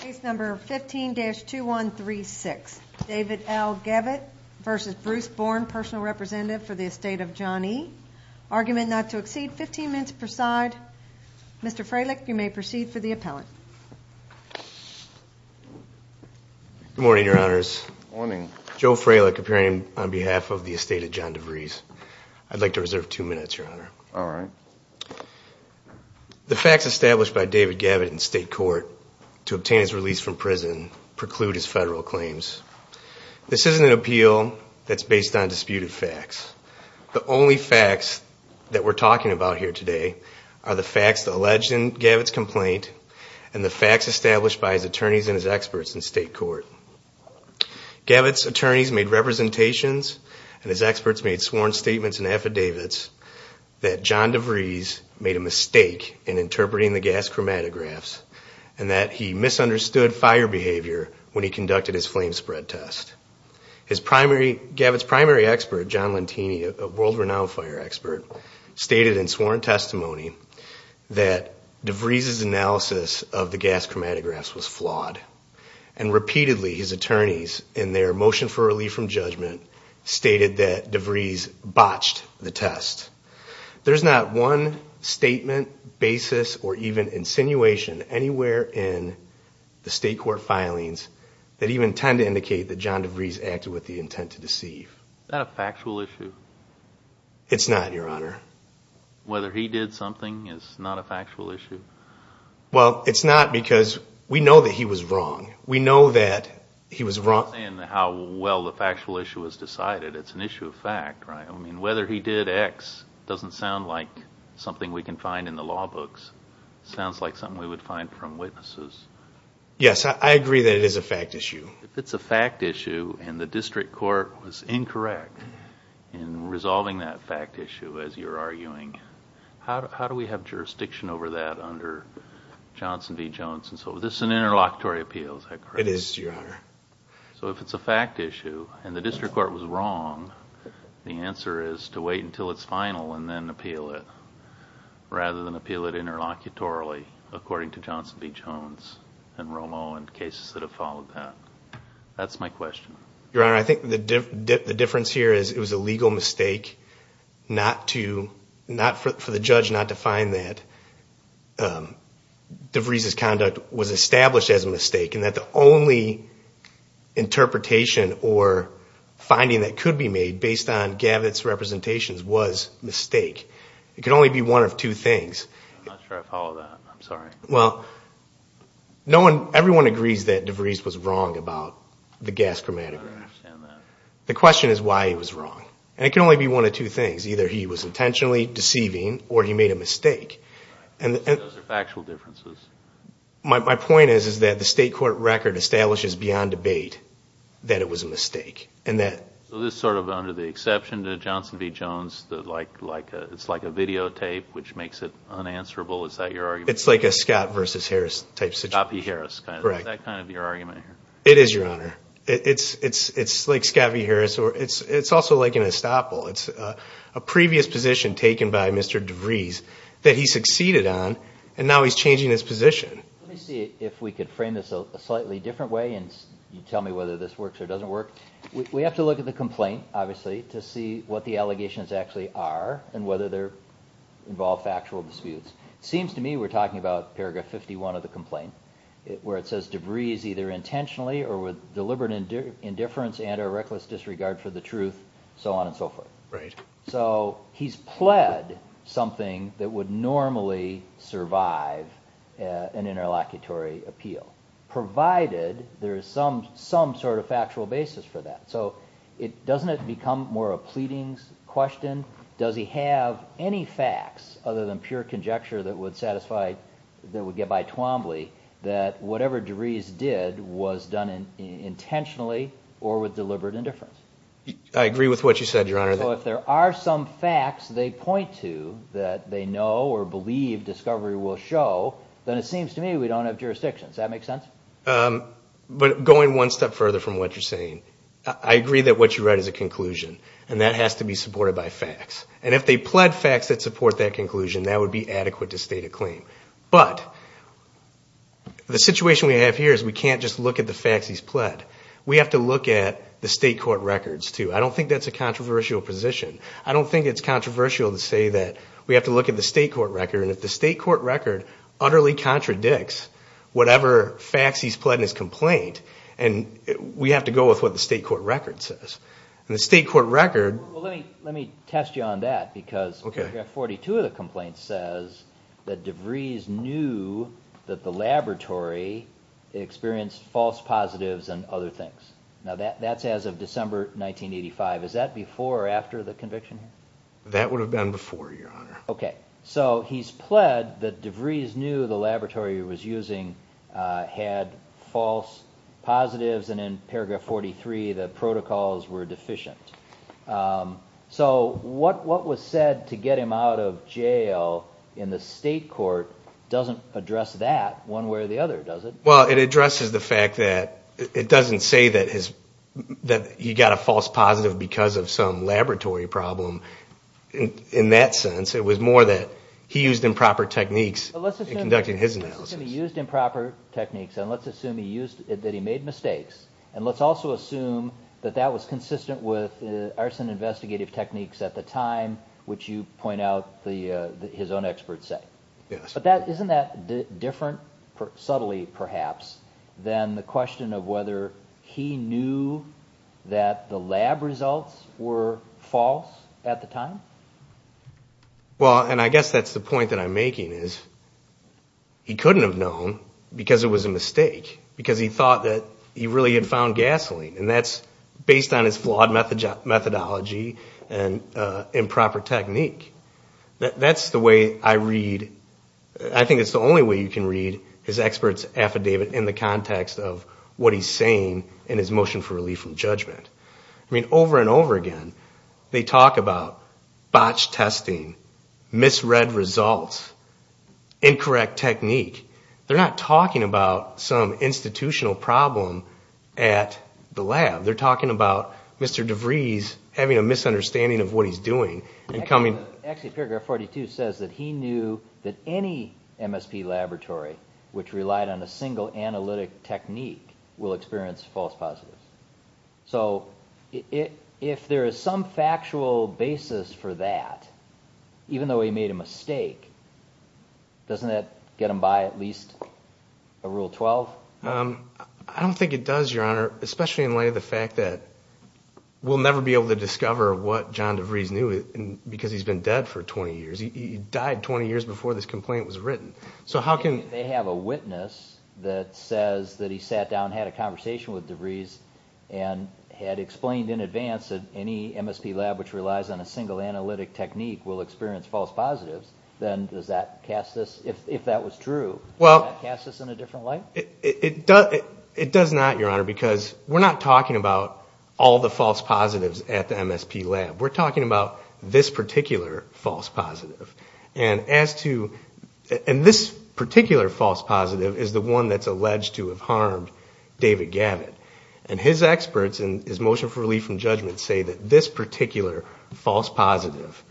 Case number 15-2136. David L. Gavitt v. Bruce Born, personal representative for the estate of John E. Argument not to exceed 15 minutes per side. Mr. Frelick, you may proceed for the appellant. Good morning, Your Honors. Good morning. Joe Frelick, appearing on behalf of the estate of John DeVries. I'd like to reserve two minutes, Your Honor. All right. The facts established by David Gavitt in state court to obtain his release from prison preclude his federal claims. This isn't an appeal that's based on disputed facts. The only facts that we're talking about here today are the facts alleged in Gavitt's complaint and the facts established by his attorneys and his experts in state court. Gavitt's attorneys made representations and his experts made sworn statements and affidavits that John DeVries made a mistake in interpreting the gas chromatographs and that he misunderstood fire behavior when he conducted his flame spread test. Gavitt's primary expert, John Lentini, a world-renowned fire expert, stated in sworn testimony that DeVries' analysis of the gas chromatographs was flawed. And repeatedly, his attorneys, in their motion for relief from judgment, stated that DeVries botched the test. There's not one statement, basis, or even insinuation anywhere in the state court filings that even tend to indicate that John DeVries acted with the intent to deceive. Is that a factual issue? It's not, Your Honor. Whether he did something is not a factual issue? Well, it's not because we know that he was wrong. We know that he was wrong. I'm not saying how well the factual issue was decided. It's an issue of fact, right? I mean, whether he did X doesn't sound like something we can find in the law books. It sounds like something we would find from witnesses. Yes, I agree that it is a fact issue. If it's a fact issue and the district court was incorrect in resolving that fact issue, as you're arguing, how do we have jurisdiction over that under Johnson v. Jones? This is an interlocutory appeal, is that correct? It is, Your Honor. So if it's a fact issue and the district court was wrong, the answer is to wait until it's final and then appeal it rather than appeal it interlocutorily, according to Johnson v. Jones and Romo and cases that have followed that. That's my question. Your Honor, I think the difference here is it was a legal mistake for the judge not to find that DeVries' conduct was established as a mistake and that the only interpretation or finding that could be made based on Gavitt's representations was mistake. It could only be one of two things. I'm not sure I follow that. I'm sorry. Well, everyone agrees that DeVries was wrong about the gas chromatograph. I understand that. The question is why he was wrong, and it can only be one of two things. Either he was intentionally deceiving or he made a mistake. Those are factual differences. My point is that the state court record establishes beyond debate that it was a mistake. So this is sort of under the exception to Johnson v. Jones, it's like a videotape, which makes it unanswerable. Is that your argument? It's like a Scott v. Harris type situation. Scott v. Harris. Is that kind of your argument here? It is, Your Honor. It's like Scott v. Harris. It's also like an estoppel. It's a previous position taken by Mr. DeVries that he succeeded on, and now he's changing his position. Let me see if we could frame this a slightly different way, and you tell me whether this works or doesn't work. We have to look at the complaint, obviously, to see what the allegations actually are and whether they involve factual disputes. It seems to me we're talking about paragraph 51 of the complaint where it says, DeVries either intentionally or with deliberate indifference and or reckless disregard for the truth, so on and so forth. So he's pled something that would normally survive an interlocutory appeal, provided there is some sort of factual basis for that. So doesn't it become more a pleadings question? Does he have any facts other than pure conjecture that would satisfy, that would get by Twombly, that whatever DeVries did was done intentionally or with deliberate indifference? I agree with what you said, Your Honor. So if there are some facts they point to that they know or believe discovery will show, then it seems to me we don't have jurisdiction. Does that make sense? But going one step further from what you're saying, I agree that what you write is a conclusion, and that has to be supported by facts. And if they pled facts that support that conclusion, that would be adequate to state a claim. But the situation we have here is we can't just look at the facts he's pled. We have to look at the state court records, too. I don't think that's a controversial position. I don't think it's controversial to say that we have to look at the state court record, and if the state court record utterly contradicts whatever facts he's pled in his complaint, we have to go with what the state court record says. And the state court record... Well, let me test you on that, because paragraph 42 of the complaint says that DeVries knew that the laboratory experienced false positives and other things. Now, that's as of December 1985. Is that before or after the conviction? That would have been before, Your Honor. Okay. So he's pled that DeVries knew the laboratory he was using had false positives, and in paragraph 43, the protocols were deficient. So what was said to get him out of jail in the state court doesn't address that one way or the other, does it? Well, it addresses the fact that it doesn't say that he got a false positive because of some laboratory problem. In that sense, it was more that he used improper techniques in conducting his analysis. So let's assume he used improper techniques, and let's assume that he made mistakes, and let's also assume that that was consistent with arson investigative techniques at the time, which you point out his own experts say. Yes. But isn't that different, subtly perhaps, than the question of whether he knew that the lab results were false at the time? Well, and I guess that's the point that I'm making is he couldn't have known because it was a mistake, because he thought that he really had found gasoline, and that's based on his flawed methodology and improper technique. That's the way I read, I think it's the only way you can read his experts' affidavit in the context of what he's saying in his motion for relief from judgment. I mean, over and over again, they talk about botched testing, misread results, incorrect technique. They're not talking about some institutional problem at the lab. They're talking about Mr. DeVries having a misunderstanding of what he's doing. Actually, paragraph 42 says that he knew that any MSP laboratory which relied on a single analytic technique will experience false positives. So if there is some factual basis for that, even though he made a mistake, doesn't that get him by at least a Rule 12? I don't think it does, Your Honor, especially in light of the fact that we'll never be able to discover what John DeVries knew because he's been dead for 20 years. He died 20 years before this complaint was written. If they have a witness that says that he sat down and had a conversation with DeVries and had explained in advance that any MSP lab which relies on a single analytic technique will experience false positives, then does that cast us, if that was true, does that cast us in a different light? It does not, Your Honor, because we're not talking about all the false positives at the MSP lab. We're talking about this particular false positive. And this particular false positive is the one that's alleged to have harmed David Gavitt. And his experts in his motion for relief from judgment say that this particular false positive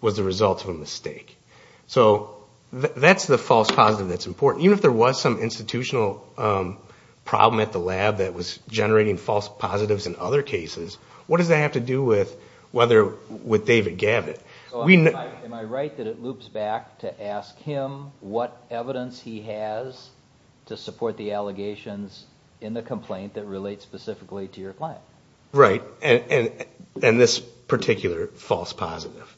was the result of a mistake. So that's the false positive that's important. Even if there was some institutional problem at the lab that was generating false positives in other cases, what does that have to do with David Gavitt? Am I right that it loops back to ask him what evidence he has to support the allegations in the complaint that relate specifically to your client? Right, and this particular false positive.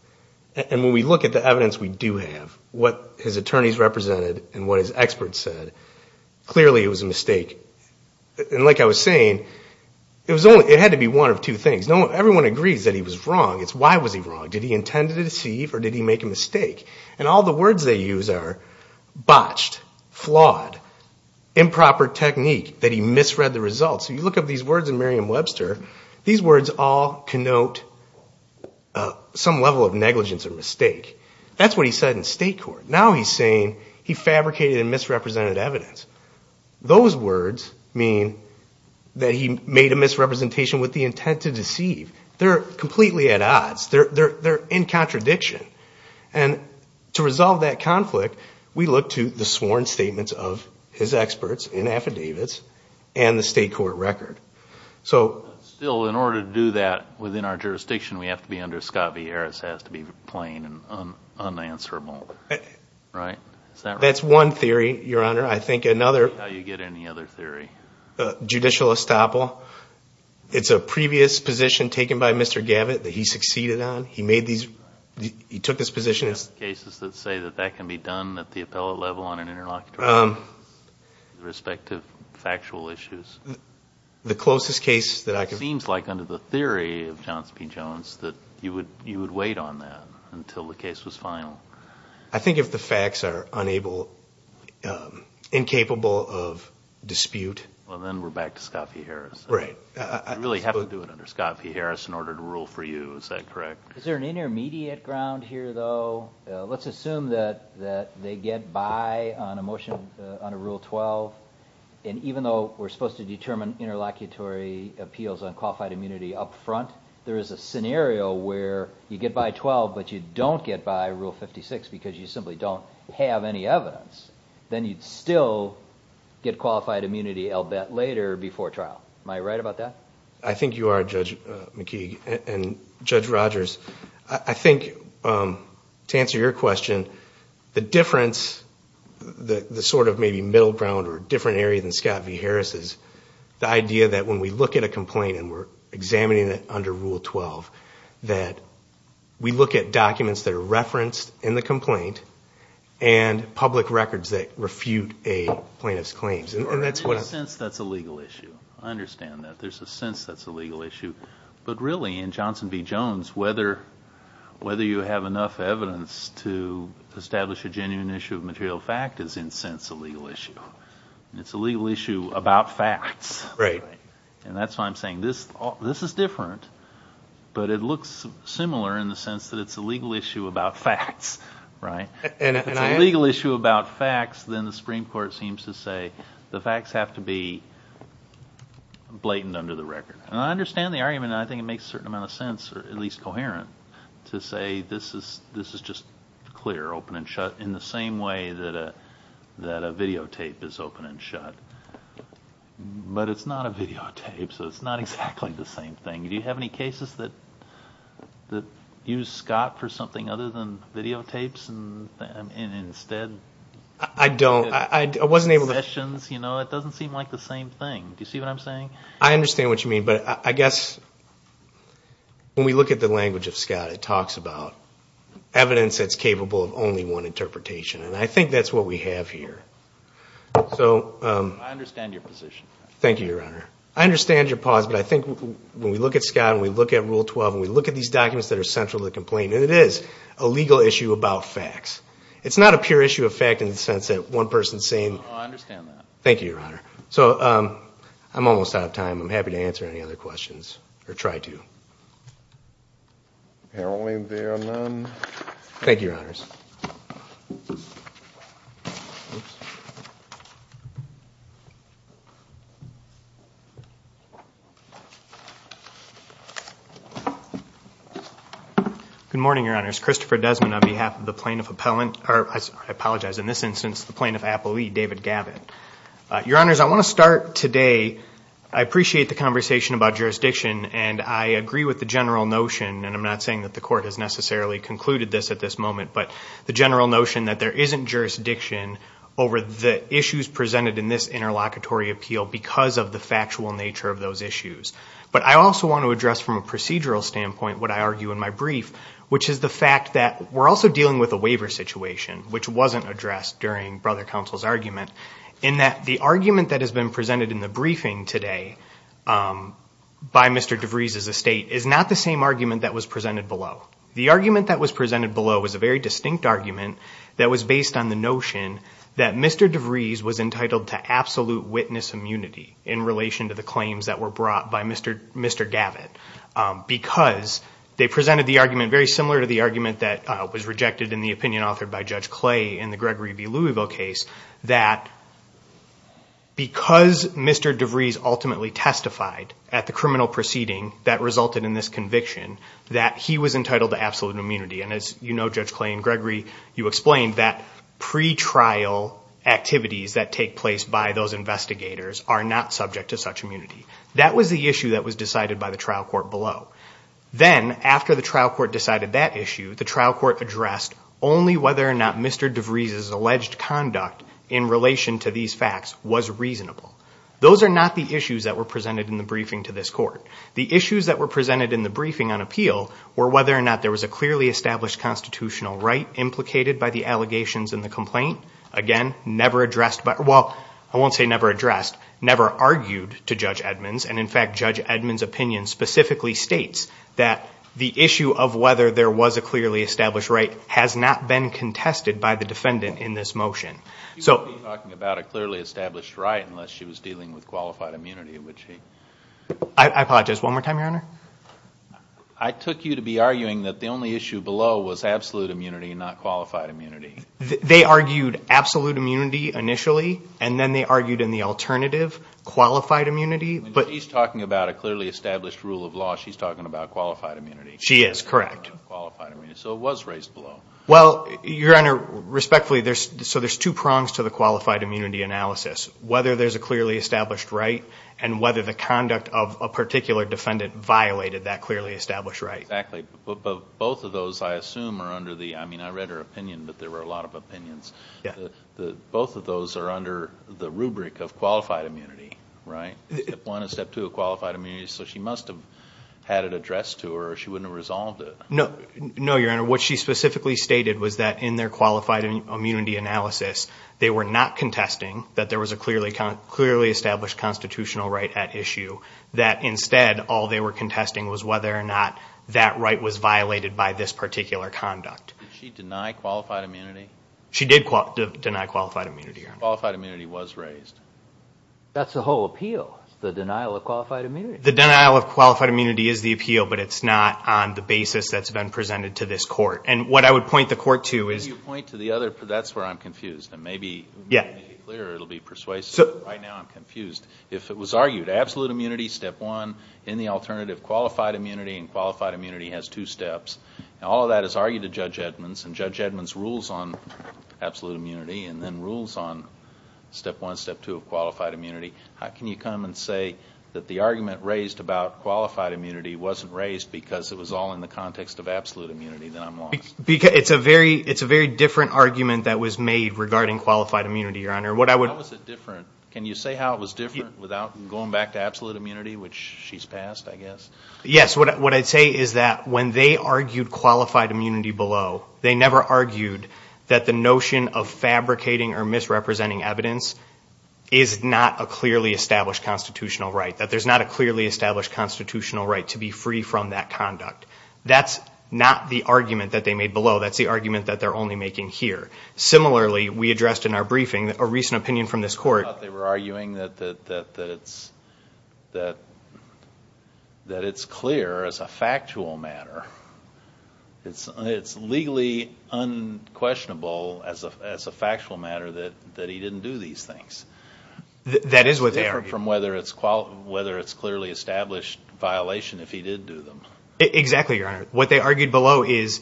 And when we look at the evidence we do have, what his attorneys represented and what his experts said, clearly it was a mistake. And like I was saying, it had to be one of two things. Everyone agrees that he was wrong. It's why was he wrong. Did he intend to deceive or did he make a mistake? And all the words they use are botched, flawed, improper technique, that he misread the results. So you look up these words in Merriam-Webster. These words all connote some level of negligence or mistake. That's what he said in state court. Now he's saying he fabricated and misrepresented evidence. Those words mean that he made a misrepresentation with the intent to deceive. They're completely at odds. They're in contradiction. And to resolve that conflict, we look to the sworn statements of his experts in affidavits and the state court record. Still, in order to do that within our jurisdiction, we have to be under Scott Vieiras, has to be plain and unanswerable, right? That's one theory, Your Honor. I think another. How do you get any other theory? Judicial estoppel. It's a previous position taken by Mr. Gavitt that he succeeded on. He took this position. Do you have cases that say that that can be done at the appellate level on an interlocutory basis with respect to factual issues? The closest case that I can think of. It seems like under the theory of Johnson P. Jones that you would wait on that until the case was final. I think if the facts are incapable of dispute. Well, then we're back to Scott Vieiras. Right. You really have to do it under Scott Vieiras in order to rule for you. Is that correct? Is there an intermediate ground here, though? Let's assume that they get by on a motion under Rule 12. And even though we're supposed to determine interlocutory appeals on qualified immunity up front, there is a scenario where you get by 12 but you don't get by Rule 56 because you simply don't have any evidence. Then you'd still get qualified immunity, I'll bet, later before trial. Am I right about that? I think you are, Judge McKeague. And Judge Rogers, I think to answer your question, the difference, the sort of maybe middle ground or different area than Scott Vieiras is the idea that when we look at a complaint and we're examining it under Rule 12, that we look at documents that are referenced in the complaint and public records that refute a plaintiff's claims. In a sense, that's a legal issue. I understand that. There's a sense that's a legal issue. But really, in Johnson v. Jones, whether you have enough evidence to establish a genuine issue of material fact is in sense a legal issue. It's a legal issue about facts. Right. And that's why I'm saying this is different, but it looks similar in the sense that it's a legal issue about facts. Right. If it's a legal issue about facts, then the Supreme Court seems to say the facts have to be blatant under the record. And I understand the argument, and I think it makes a certain amount of sense, or at least coherent, to say this is just clear, open and shut, in the same way that a videotape is open and shut. But it's not a videotape, so it's not exactly the same thing. Do you have any cases that use Scott for something other than videotapes instead? I don't. I wasn't able to. It doesn't seem like the same thing. Do you see what I'm saying? I understand what you mean. But I guess when we look at the language of Scott, it talks about evidence that's capable of only one interpretation. And I think that's what we have here. I understand your position. Thank you, Your Honor. I understand your pause, but I think when we look at Scott and we look at Rule 12 and we look at these documents that are central to the complaint, and it is a legal issue about facts, it's not a pure issue of fact in the sense that one person is saying. Oh, I understand that. Thank you, Your Honor. So I'm almost out of time. I'm happy to answer any other questions, or try to. Apparently there are none. Thank you, Your Honors. Good morning, Your Honors. Christopher Desmond on behalf of the Plaintiff Appellant or, I apologize, in this instance, the Plaintiff Appellee, David Gavitt. Your Honors, I want to start today. I appreciate the conversation about jurisdiction, and I agree with the general notion, and I'm not saying that the Court has necessarily concluded this at this moment, but the general notion that there isn't jurisdiction over the issues presented in this interlocutory appeal because of the factual nature of those issues. But I also want to address from a procedural standpoint what I argue in my brief, which is the fact that we're also dealing with a waiver situation, which wasn't addressed during Brother Counsel's argument, in that the argument that has been presented in the briefing today by Mr. DeVries as a State is not the same argument that was presented below. The argument that was presented below was a very distinct argument that was based on the notion that Mr. DeVries was entitled to absolute witness immunity in relation to the claims that were brought by Mr. Gavitt because they presented the argument very similar to the argument that was rejected in the opinion authored by Judge Clay in the Gregory v. Louisville case that because Mr. DeVries ultimately testified at the criminal proceeding that resulted in this conviction that he was entitled to absolute immunity. And as you know, Judge Clay in Gregory, you explained that pre-trial activities that take place by those investigators are not subject to such immunity. That was the issue that was decided by the trial court below. Then, after the trial court decided that issue, the trial court addressed only whether or not Mr. DeVries' alleged conduct in relation to these facts was reasonable. Those are not the issues that were presented in the briefing to this Court. The issues that were presented in the briefing on appeal were whether or not there was a clearly established constitutional right implicated by the allegations in the complaint. Again, never addressed by, well, I won't say never addressed, never argued to Judge Edmonds. And in fact, Judge Edmonds' opinion specifically states that the issue of whether there was a clearly established right has not been contested by the defendant in this motion. She wouldn't be talking about a clearly established right unless she was dealing with qualified immunity, would she? I apologize, one more time, Your Honor? I took you to be arguing that the only issue below was absolute immunity and not qualified immunity. They argued absolute immunity initially, and then they argued in the alternative, qualified immunity. When she's talking about a clearly established rule of law, she's talking about qualified immunity. She is, correct. Qualified immunity, so it was raised below. Well, Your Honor, respectfully, so there's two prongs to the qualified immunity analysis, whether there's a clearly established right and whether the conduct of a particular defendant violated that clearly established right. Exactly. But both of those, I assume, are under the, I mean, I read her opinion, but there were a lot of opinions. Yeah. Both of those are under the rubric of qualified immunity, right? Step one is step two of qualified immunity, so she must have had it addressed to her or she wouldn't have resolved it. No, Your Honor, what she specifically stated was that in their qualified immunity analysis, they were not contesting that there was a clearly established constitutional right at issue, that instead all they were contesting was whether or not that right was violated by this particular conduct. Did she deny qualified immunity? She did deny qualified immunity, Your Honor. Qualified immunity was raised. That's the whole appeal, the denial of qualified immunity. The denial of qualified immunity is the appeal, but it's not on the basis that's been presented to this court. And what I would point the court to is to Can you point to the other, that's where I'm confused, and maybe it will be clearer, it will be persuasive. Right now I'm confused. If it was argued, absolute immunity, step one, in the alternative qualified immunity, and qualified immunity has two steps, and all of that is argued to Judge Edmonds, and Judge Edmonds rules on absolute immunity and then rules on step one, step two of qualified immunity, how can you come and say that the argument raised about qualified immunity wasn't raised because it was all in the context of absolute immunity, then I'm lost. It's a very different argument that was made regarding qualified immunity, Your Honor. How was it different? Can you say how it was different without going back to absolute immunity, which she's passed, I guess? Yes, what I'd say is that when they argued qualified immunity below, they never argued that the notion of fabricating or misrepresenting evidence is not a clearly established constitutional right, that there's not a clearly established constitutional right to be free from that conduct. That's not the argument that they made below. That's the argument that they're only making here. Similarly, we addressed in our briefing a recent opinion from this court. They were arguing that it's clear as a factual matter. It's legally unquestionable as a factual matter that he didn't do these things. That is what they argued. It's different from whether it's clearly established violation if he did do them. Exactly, Your Honor. What they argued below is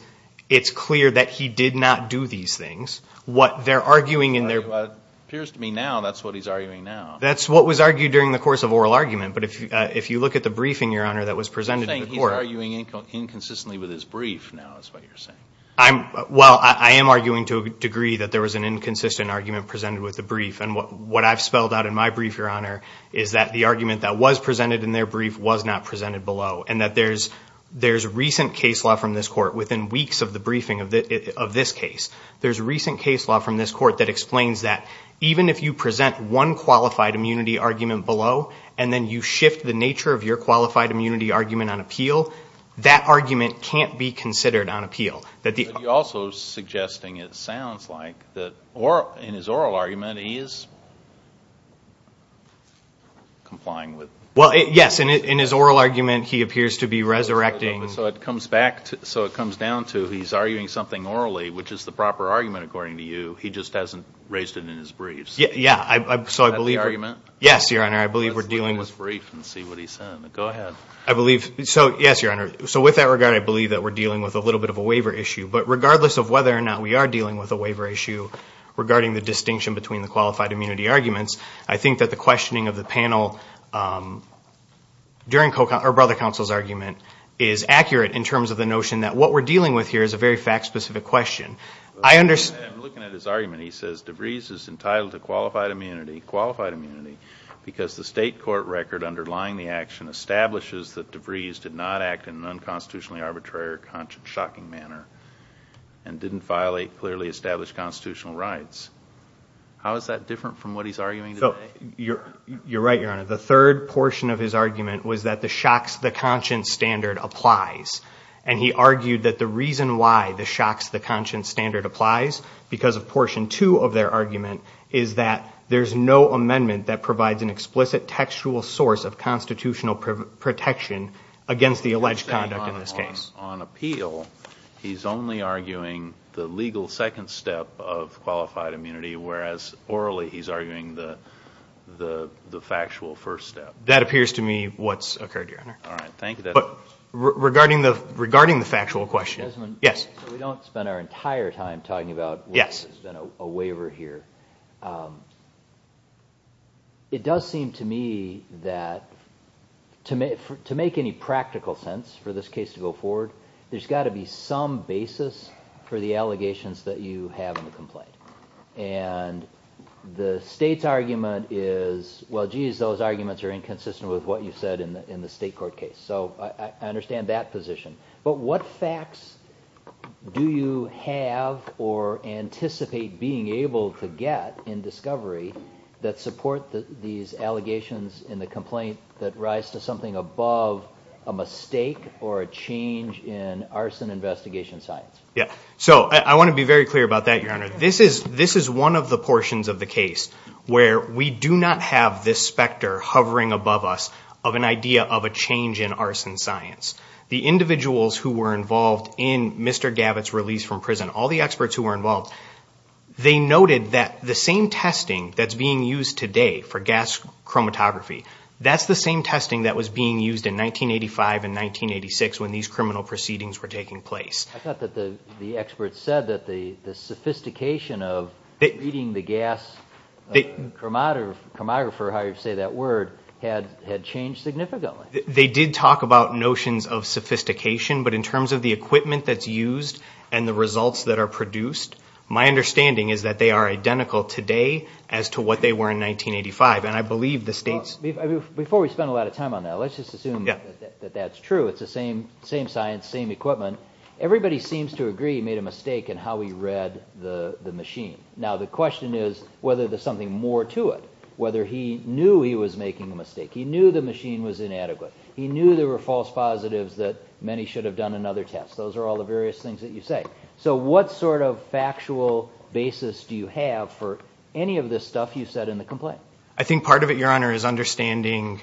it's clear that he did not do these things. What they're arguing in their- It appears to me now that's what he's arguing now. That's what was argued during the course of oral argument, but if you look at the briefing, Your Honor, that was presented in court- Well, I am arguing to a degree that there was an inconsistent argument presented with the brief. What I've spelled out in my brief, Your Honor, is that the argument that was presented in their brief was not presented below and that there's recent case law from this court within weeks of the briefing of this case. There's recent case law from this court that explains that even if you present one qualified immunity argument below that argument can't be considered on appeal. You're also suggesting it sounds like in his oral argument he is complying with- Well, yes. In his oral argument, he appears to be resurrecting- So it comes down to he's arguing something orally, which is the proper argument according to you. He just hasn't raised it in his brief. Yeah. Is that the argument? Yes, Your Honor. I believe we're dealing with- Let's read his brief and see what he said. Go ahead. I believe- Yes, Your Honor. With that regard, I believe that we're dealing with a little bit of a waiver issue. Regardless of whether or not we are dealing with a waiver issue regarding the distinction between the qualified immunity arguments, I think that the questioning of the panel during Brother Counsel's argument is accurate in terms of the notion that what we're dealing with here is a very fact-specific question. I understand- I'm looking at his argument. He says DeVries is entitled to qualified immunity because the state court record underlying the action establishes that DeVries did not act in an unconstitutionally arbitrary or shocking manner and didn't clearly establish constitutional rights. How is that different from what he's arguing today? You're right, Your Honor. The third portion of his argument was that the shocks the conscience standard applies. He argued that the reason why the shocks the conscience standard applies, because of portion two of their argument, is that there's no amendment that provides an explicit textual source of constitutional protection against the alleged conduct in this case. On appeal, he's only arguing the legal second step of qualified immunity, whereas orally he's arguing the factual first step. That appears to me what's occurred, Your Honor. All right. Thank you. Regarding the factual question- Desmond. Yes. We don't spend our entire time talking about whether there's been a waiver here. It does seem to me that to make any practical sense for this case to go forward, there's got to be some basis for the allegations that you have in the complaint. And the state's argument is, well, geez, those arguments are inconsistent with what you said in the state court case. So I understand that position. But what facts do you have or anticipate being able to get in discovery that support these allegations in the complaint that rise to something above a mistake or a change in arson investigation science? Yeah. So I want to be very clear about that, Your Honor. This is one of the portions of the case where we do not have this specter hovering above us of an idea of a change in arson science. The individuals who were involved in Mr. Gavitt's release from prison, all the experts who were involved, they noted that the same testing that's being used today for gas chromatography, that's the same testing that was being used in 1985 and 1986 when these criminal proceedings were taking place. I thought that the experts said that the sophistication of reading the gas chromographer, however you say that word, had changed significantly. They did talk about notions of sophistication, but in terms of the equipment that's used and the results that are produced, my understanding is that they are identical today as to what they were in 1985. And I believe the states... Before we spend a lot of time on that, let's just assume that that's true. It's the same science, same equipment. Everybody seems to agree he made a mistake in how he read the machine. Now the question is whether there's something more to it, whether he knew he was making a mistake. He knew the machine was inadequate. He knew there were false positives that many should have done another test. Those are all the various things that you say. So what sort of factual basis do you have for any of this stuff you said in the complaint? I think part of it, Your Honor, is understanding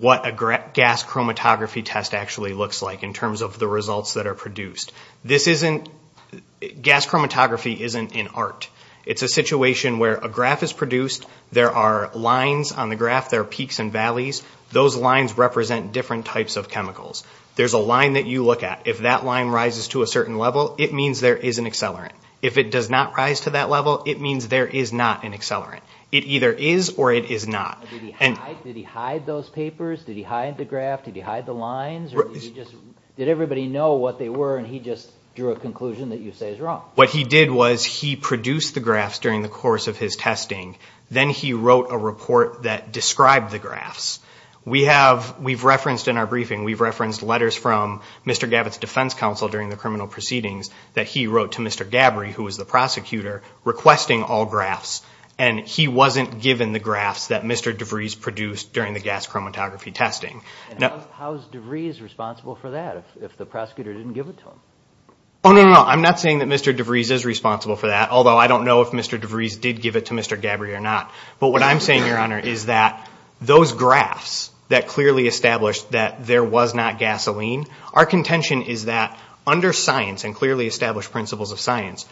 what a gas chromatography test actually looks like in terms of the results that are produced. Gas chromatography isn't an art. It's a situation where a graph is produced, there are lines on the graph, there are peaks and valleys, those lines represent different types of chemicals. There's a line that you look at. If that line rises to a certain level, it means there is an accelerant. If it does not rise to that level, it means there is not an accelerant. It either is or it is not. Did he hide those papers? Did he hide the graph? Did he hide the lines? Did everybody know what they were and he just drew a conclusion that you say is wrong? What he did was he produced the graphs during the course of his testing. Then he wrote a report that described the graphs. We've referenced in our briefing, we've referenced letters from Mr. Gabbitt's defense counsel during the criminal proceedings that he wrote to Mr. Gabbry, who was the prosecutor, requesting all graphs, and he wasn't given the graphs that Mr. DeVries produced during the gas chromatography testing. How is DeVries responsible for that if the prosecutor didn't give it to him? Oh, no, no, no. I'm not saying that Mr. DeVries is responsible for that, although I don't know if Mr. DeVries did give it to Mr. Gabbry or not. But what I'm saying, Your Honor, is that those graphs that clearly established that there was not gasoline, our contention is that under science and clearly established principles of science,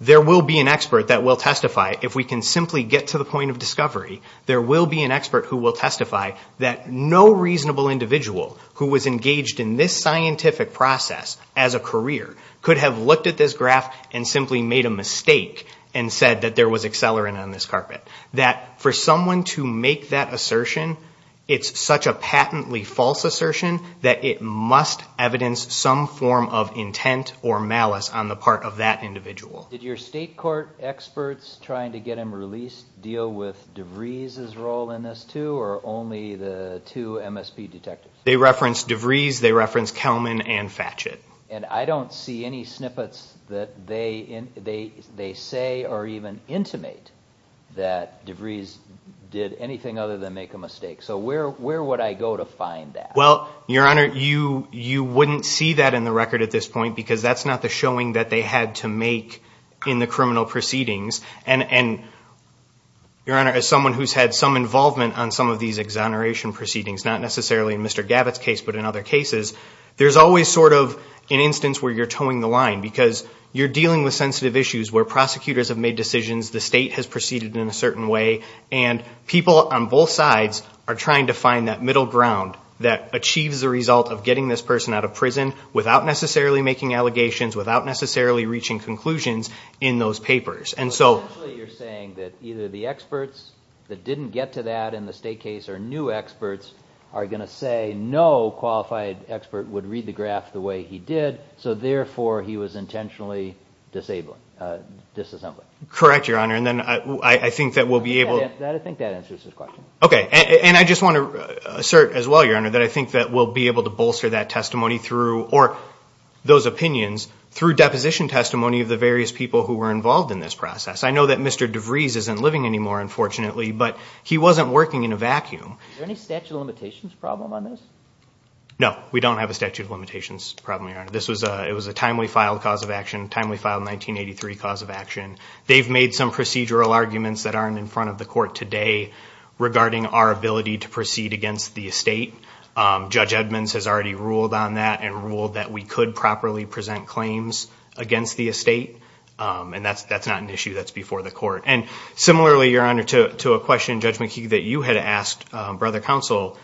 there will be an expert that will testify. If we can simply get to the point of discovery, there will be an expert who will testify that no reasonable individual who was engaged in this scientific process as a career could have looked at this graph and simply made a mistake and said that there was accelerant on this carpet. That for someone to make that assertion, it's such a patently false assertion that it must evidence some form of intent or malice on the part of that individual. Did your state court experts trying to get him released deal with DeVries' role in this, too, or only the two MSP detectives? They referenced DeVries. They referenced Kelman and Fachet. And I don't see any snippets that they say or even intimate that DeVries did anything other than make a mistake. So where would I go to find that? Well, Your Honor, you wouldn't see that in the record at this point because that's not the showing that they had to make in the criminal proceedings. And, Your Honor, as someone who's had some involvement on some of these exoneration proceedings, not necessarily in Mr. Gavitt's case but in other cases, there's always sort of an instance where you're towing the line because you're dealing with sensitive issues where prosecutors have made decisions, the state has proceeded in a certain way, and people on both sides are trying to find that middle ground that achieves the result of getting this person out of prison without necessarily making allegations, without necessarily reaching conclusions in those papers. So essentially you're saying that either the experts that didn't get to that in the state case or new experts are going to say no qualified expert would read the graph the way he did, so therefore he was intentionally disassembling. Correct, Your Honor, and then I think that we'll be able to... I think that answers his question. Okay, and I just want to assert as well, Your Honor, that I think that we'll be able to bolster that testimony through, or those opinions, through deposition testimony of the various people who were involved in this process. I know that Mr. DeVries isn't living anymore, unfortunately, but he wasn't working in a vacuum. Is there any statute of limitations problem on this? No, we don't have a statute of limitations problem, Your Honor. This was a timely filed cause of action, timely filed 1983 cause of action. They've made some procedural arguments that aren't in front of the court today regarding our ability to proceed against the estate. Judge Edmonds has already ruled on that and ruled that we could properly present claims against the estate, and that's not an issue that's before the court. And similarly, Your Honor, to a question, Judge McKee, that you had asked Brother Counsel,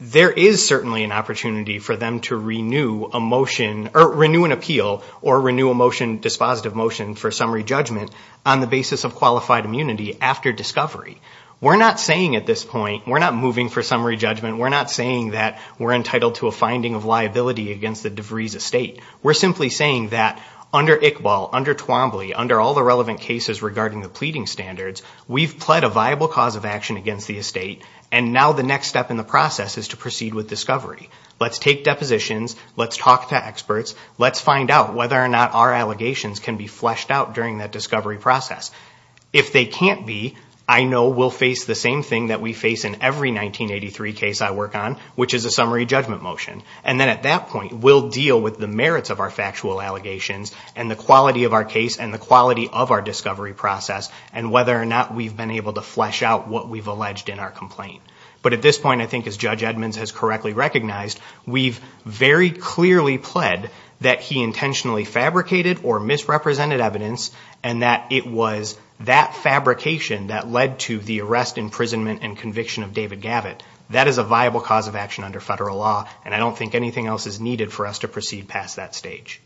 there is certainly an opportunity for them to renew a motion, or renew an appeal, or renew a motion, dispositive motion for summary judgment on the basis of qualified immunity after discovery. We're not saying at this point, we're not moving for summary judgment, we're not saying that we're entitled to a finding of liability against the DeVries estate. We're simply saying that under Iqbal, under Twombly, under all the relevant cases regarding the pleading standards, we've pled a viable cause of action against the estate, and now the next step in the process is to proceed with discovery. Let's take depositions, let's talk to experts, let's find out whether or not our allegations can be fleshed out during that discovery process. If they can't be, I know we'll face the same thing that we face in every 1983 case I work on, which is a summary judgment motion. And then at that point, we'll deal with the merits of our factual allegations, and the quality of our case, and the quality of our discovery process, and whether or not we've been able to flesh out what we've alleged in our complaint. But at this point, I think as Judge Edmonds has correctly recognized, we've very clearly pled that he intentionally fabricated or misrepresented evidence, and that it was that fabrication that led to the arrest, imprisonment, and conviction of David Gavitt. That is a viable cause of action under federal law, and I don't think anything else is needed for us to proceed past that stage.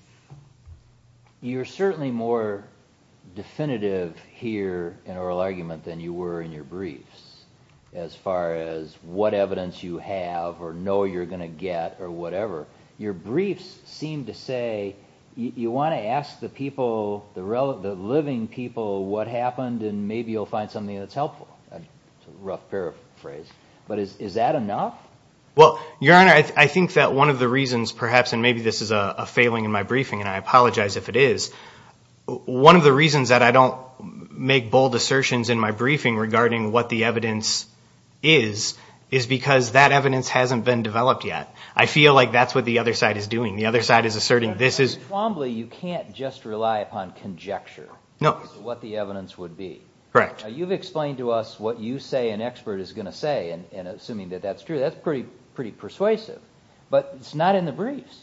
You're certainly more definitive here in oral argument than you were in your briefs, as far as what evidence you have, or know you're going to get, or whatever. Your briefs seem to say you want to ask the people, the living people, what happened, and maybe you'll find something that's helpful. That's a rough paraphrase. But is that enough? Well, Your Honor, I think that one of the reasons perhaps, and maybe this is a failing in my briefing, and I apologize if it is, one of the reasons that I don't make bold assertions in my briefing regarding what the evidence is, is because that evidence hasn't been developed yet. I feel like that's what the other side is doing. The other side is asserting this is. You can't just rely upon conjecture as to what the evidence would be. Correct. You've explained to us what you say an expert is going to say, and assuming that that's true, that's pretty persuasive. But it's not in the briefs.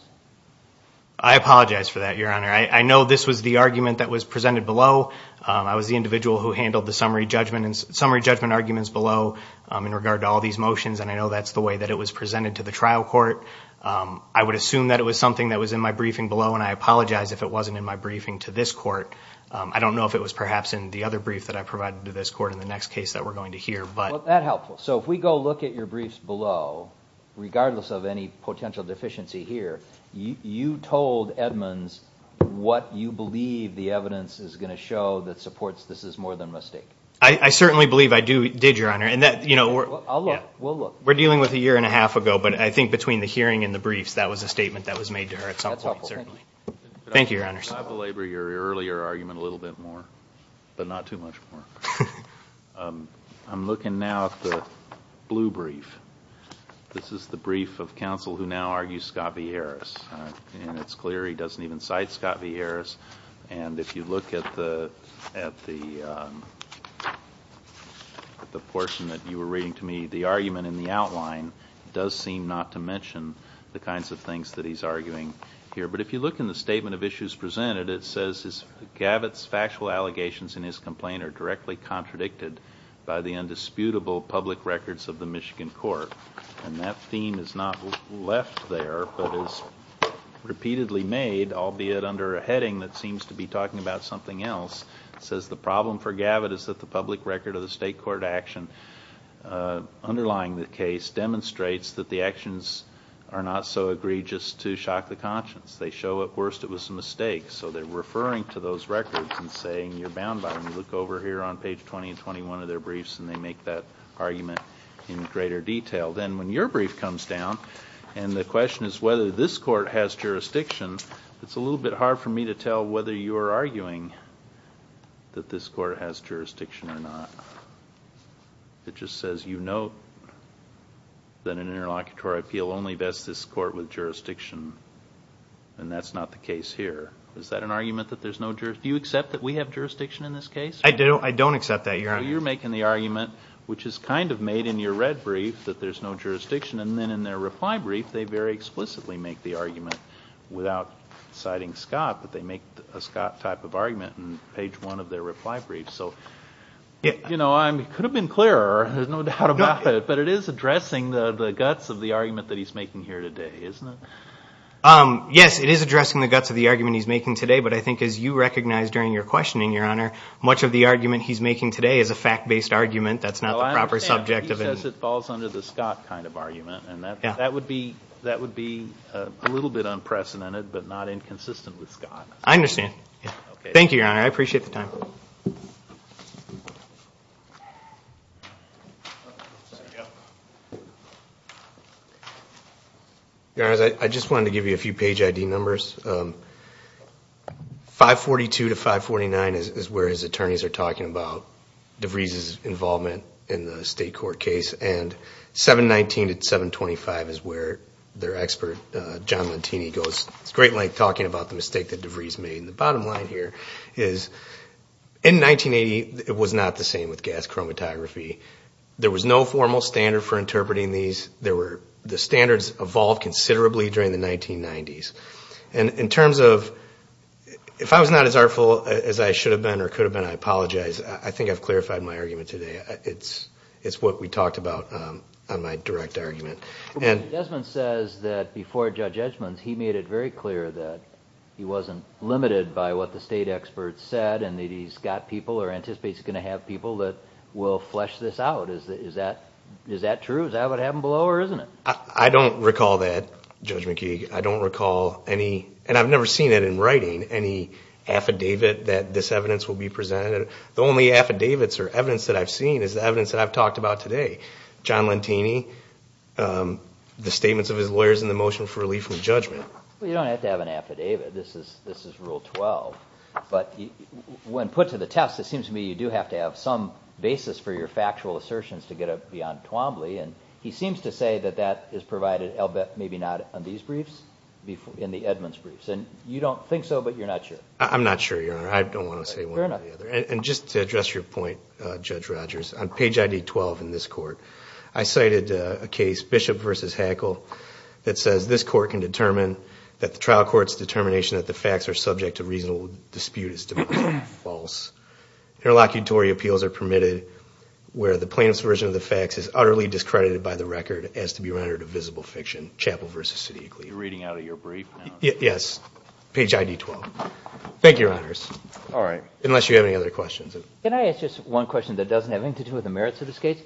I apologize for that, Your Honor. I know this was the argument that was presented below. I was the individual who handled the summary judgment arguments below in regard to all these motions, and I know that's the way that it was presented to the trial court. I would assume that it was something that was in my briefing below, and I apologize if it wasn't in my briefing to this court. I don't know if it was perhaps in the other brief that I provided to this court in the next case that we're going to hear. Well, that's helpful. So if we go look at your briefs below, regardless of any potential deficiency here, you told Edmonds what you believe the evidence is going to show that supports this is more than a mistake. I certainly believe I did, Your Honor. I'll look. We'll look. We're dealing with a year and a half ago, but I think between the hearing and the briefs, that was a statement that was made to her at some point. That's helpful. Thank you. Thank you, Your Honors. I belabor your earlier argument a little bit more, but not too much more. I'm looking now at the blue brief. This is the brief of counsel who now argues Scott v. Harris, and it's clear he doesn't even cite Scott v. Harris. And if you look at the portion that you were reading to me, the argument in the outline does seem not to mention the kinds of things that he's arguing here. But if you look in the statement of issues presented, it says that Gavitt's factual allegations in his complaint are directly contradicted by the indisputable public records of the Michigan court. And that theme is not left there, but is repeatedly made, albeit under a heading that seems to be talking about something else. It says the problem for Gavitt is that the public record of the state court action underlying the case demonstrates that the actions are not so egregious to shock the conscience. They show at worst it was a mistake. So they're referring to those records and saying you're bound by them. You look over here on page 20 and 21 of their briefs, and they make that argument in greater detail. Then when your brief comes down, and the question is whether this court has jurisdiction, it's a little bit hard for me to tell whether you're arguing that this court has jurisdiction or not. It just says you note that an interlocutory appeal only vests this court with jurisdiction, and that's not the case here. Is that an argument that there's no jurisdiction? Do you accept that we have jurisdiction in this case? I don't accept that, Your Honor. So you're making the argument, which is kind of made in your red brief, that there's no jurisdiction, and then in their reply brief, they very explicitly make the argument without citing Scott, but they make a Scott type of argument in page one of their reply brief. It could have been clearer, there's no doubt about it, but it is addressing the guts of the argument that he's making here today, isn't it? Yes, it is addressing the guts of the argument he's making today, but I think as you recognized during your questioning, Your Honor, much of the argument he's making today is a fact-based argument. That's not the proper subject of it. He says it falls under the Scott kind of argument, and that would be a little bit unprecedented but not inconsistent with Scott. I understand. Thank you, Your Honor. I appreciate the time. Thank you. Your Honor, I just wanted to give you a few page ID numbers. 542 to 549 is where his attorneys are talking about DeVries' involvement in the state court case, and 719 to 725 is where their expert, John Lantini, goes straight like talking about the mistake that DeVries made. The bottom line here is in 1980, it was not the same with gas chromatography. There was no formal standard for interpreting these. The standards evolved considerably during the 1990s. And in terms of if I was not as artful as I should have been or could have been, I apologize. I think I've clarified my argument today. It's what we talked about on my direct argument. Judge Edgman says that before Judge Edgman's, he made it very clear that he wasn't limited by what the state experts said and that he's got people or anticipates he's going to have people that will flesh this out. Is that true? Is that what happened below or isn't it? I don't recall that, Judge McKeague. I don't recall any, and I've never seen it in writing, any affidavit that this evidence will be presented. The only affidavits or evidence that I've seen is the evidence that I've talked about today. John Lentini, the statements of his lawyers in the motion for relief from judgment. Well, you don't have to have an affidavit. This is Rule 12. But when put to the test, it seems to me you do have to have some basis for your factual assertions to get up beyond Twombly. And he seems to say that that is provided maybe not on these briefs, in the Edgman's briefs. And you don't think so, but you're not sure. I'm not sure, Your Honor. I don't want to say one or the other. And just to address your point, Judge Rogers, on page ID 12 in this court, I cited a case, Bishop v. Hackel, that says this court can determine that the trial court's determination that the facts are subject to reasonable dispute is false. Interlocutory appeals are permitted where the plaintiff's version of the facts is utterly discredited by the record as to be rendered a visible fiction. Chapel v. City of Glee. You're reading out of your brief now? Yes. Page ID 12. Thank you, Your Honors. All right. Unless you have any other questions. Can I ask just one question that doesn't have anything to do with the merits of this case?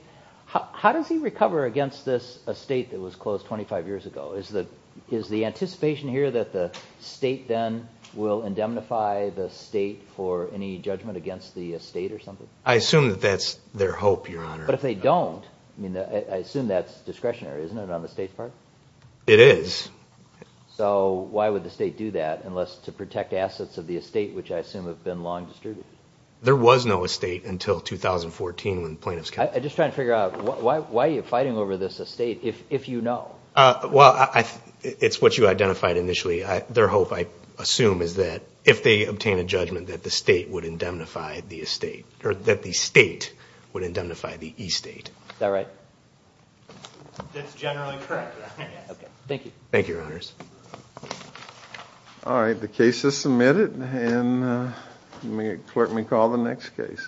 How does he recover against this estate that was closed 25 years ago? Is the anticipation here that the state then will indemnify the state for any judgment against the estate or something? I assume that that's their hope, Your Honor. But if they don't, I assume that's discretionary, isn't it, on the state's part? It is. So why would the state do that unless to protect assets of the estate, which I assume have been long distributed? There was no estate until 2014 when plaintiffs came. I'm just trying to figure out why are you fighting over this estate if you know? Well, it's what you identified initially. Their hope, I assume, is that if they obtain a judgment, that the state would indemnify the estate or that the state would indemnify the estate. Is that right? That's generally correct, Your Honor. Okay, thank you. Thank you, Your Honors. All right, the case is submitted, and the clerk may call the next case.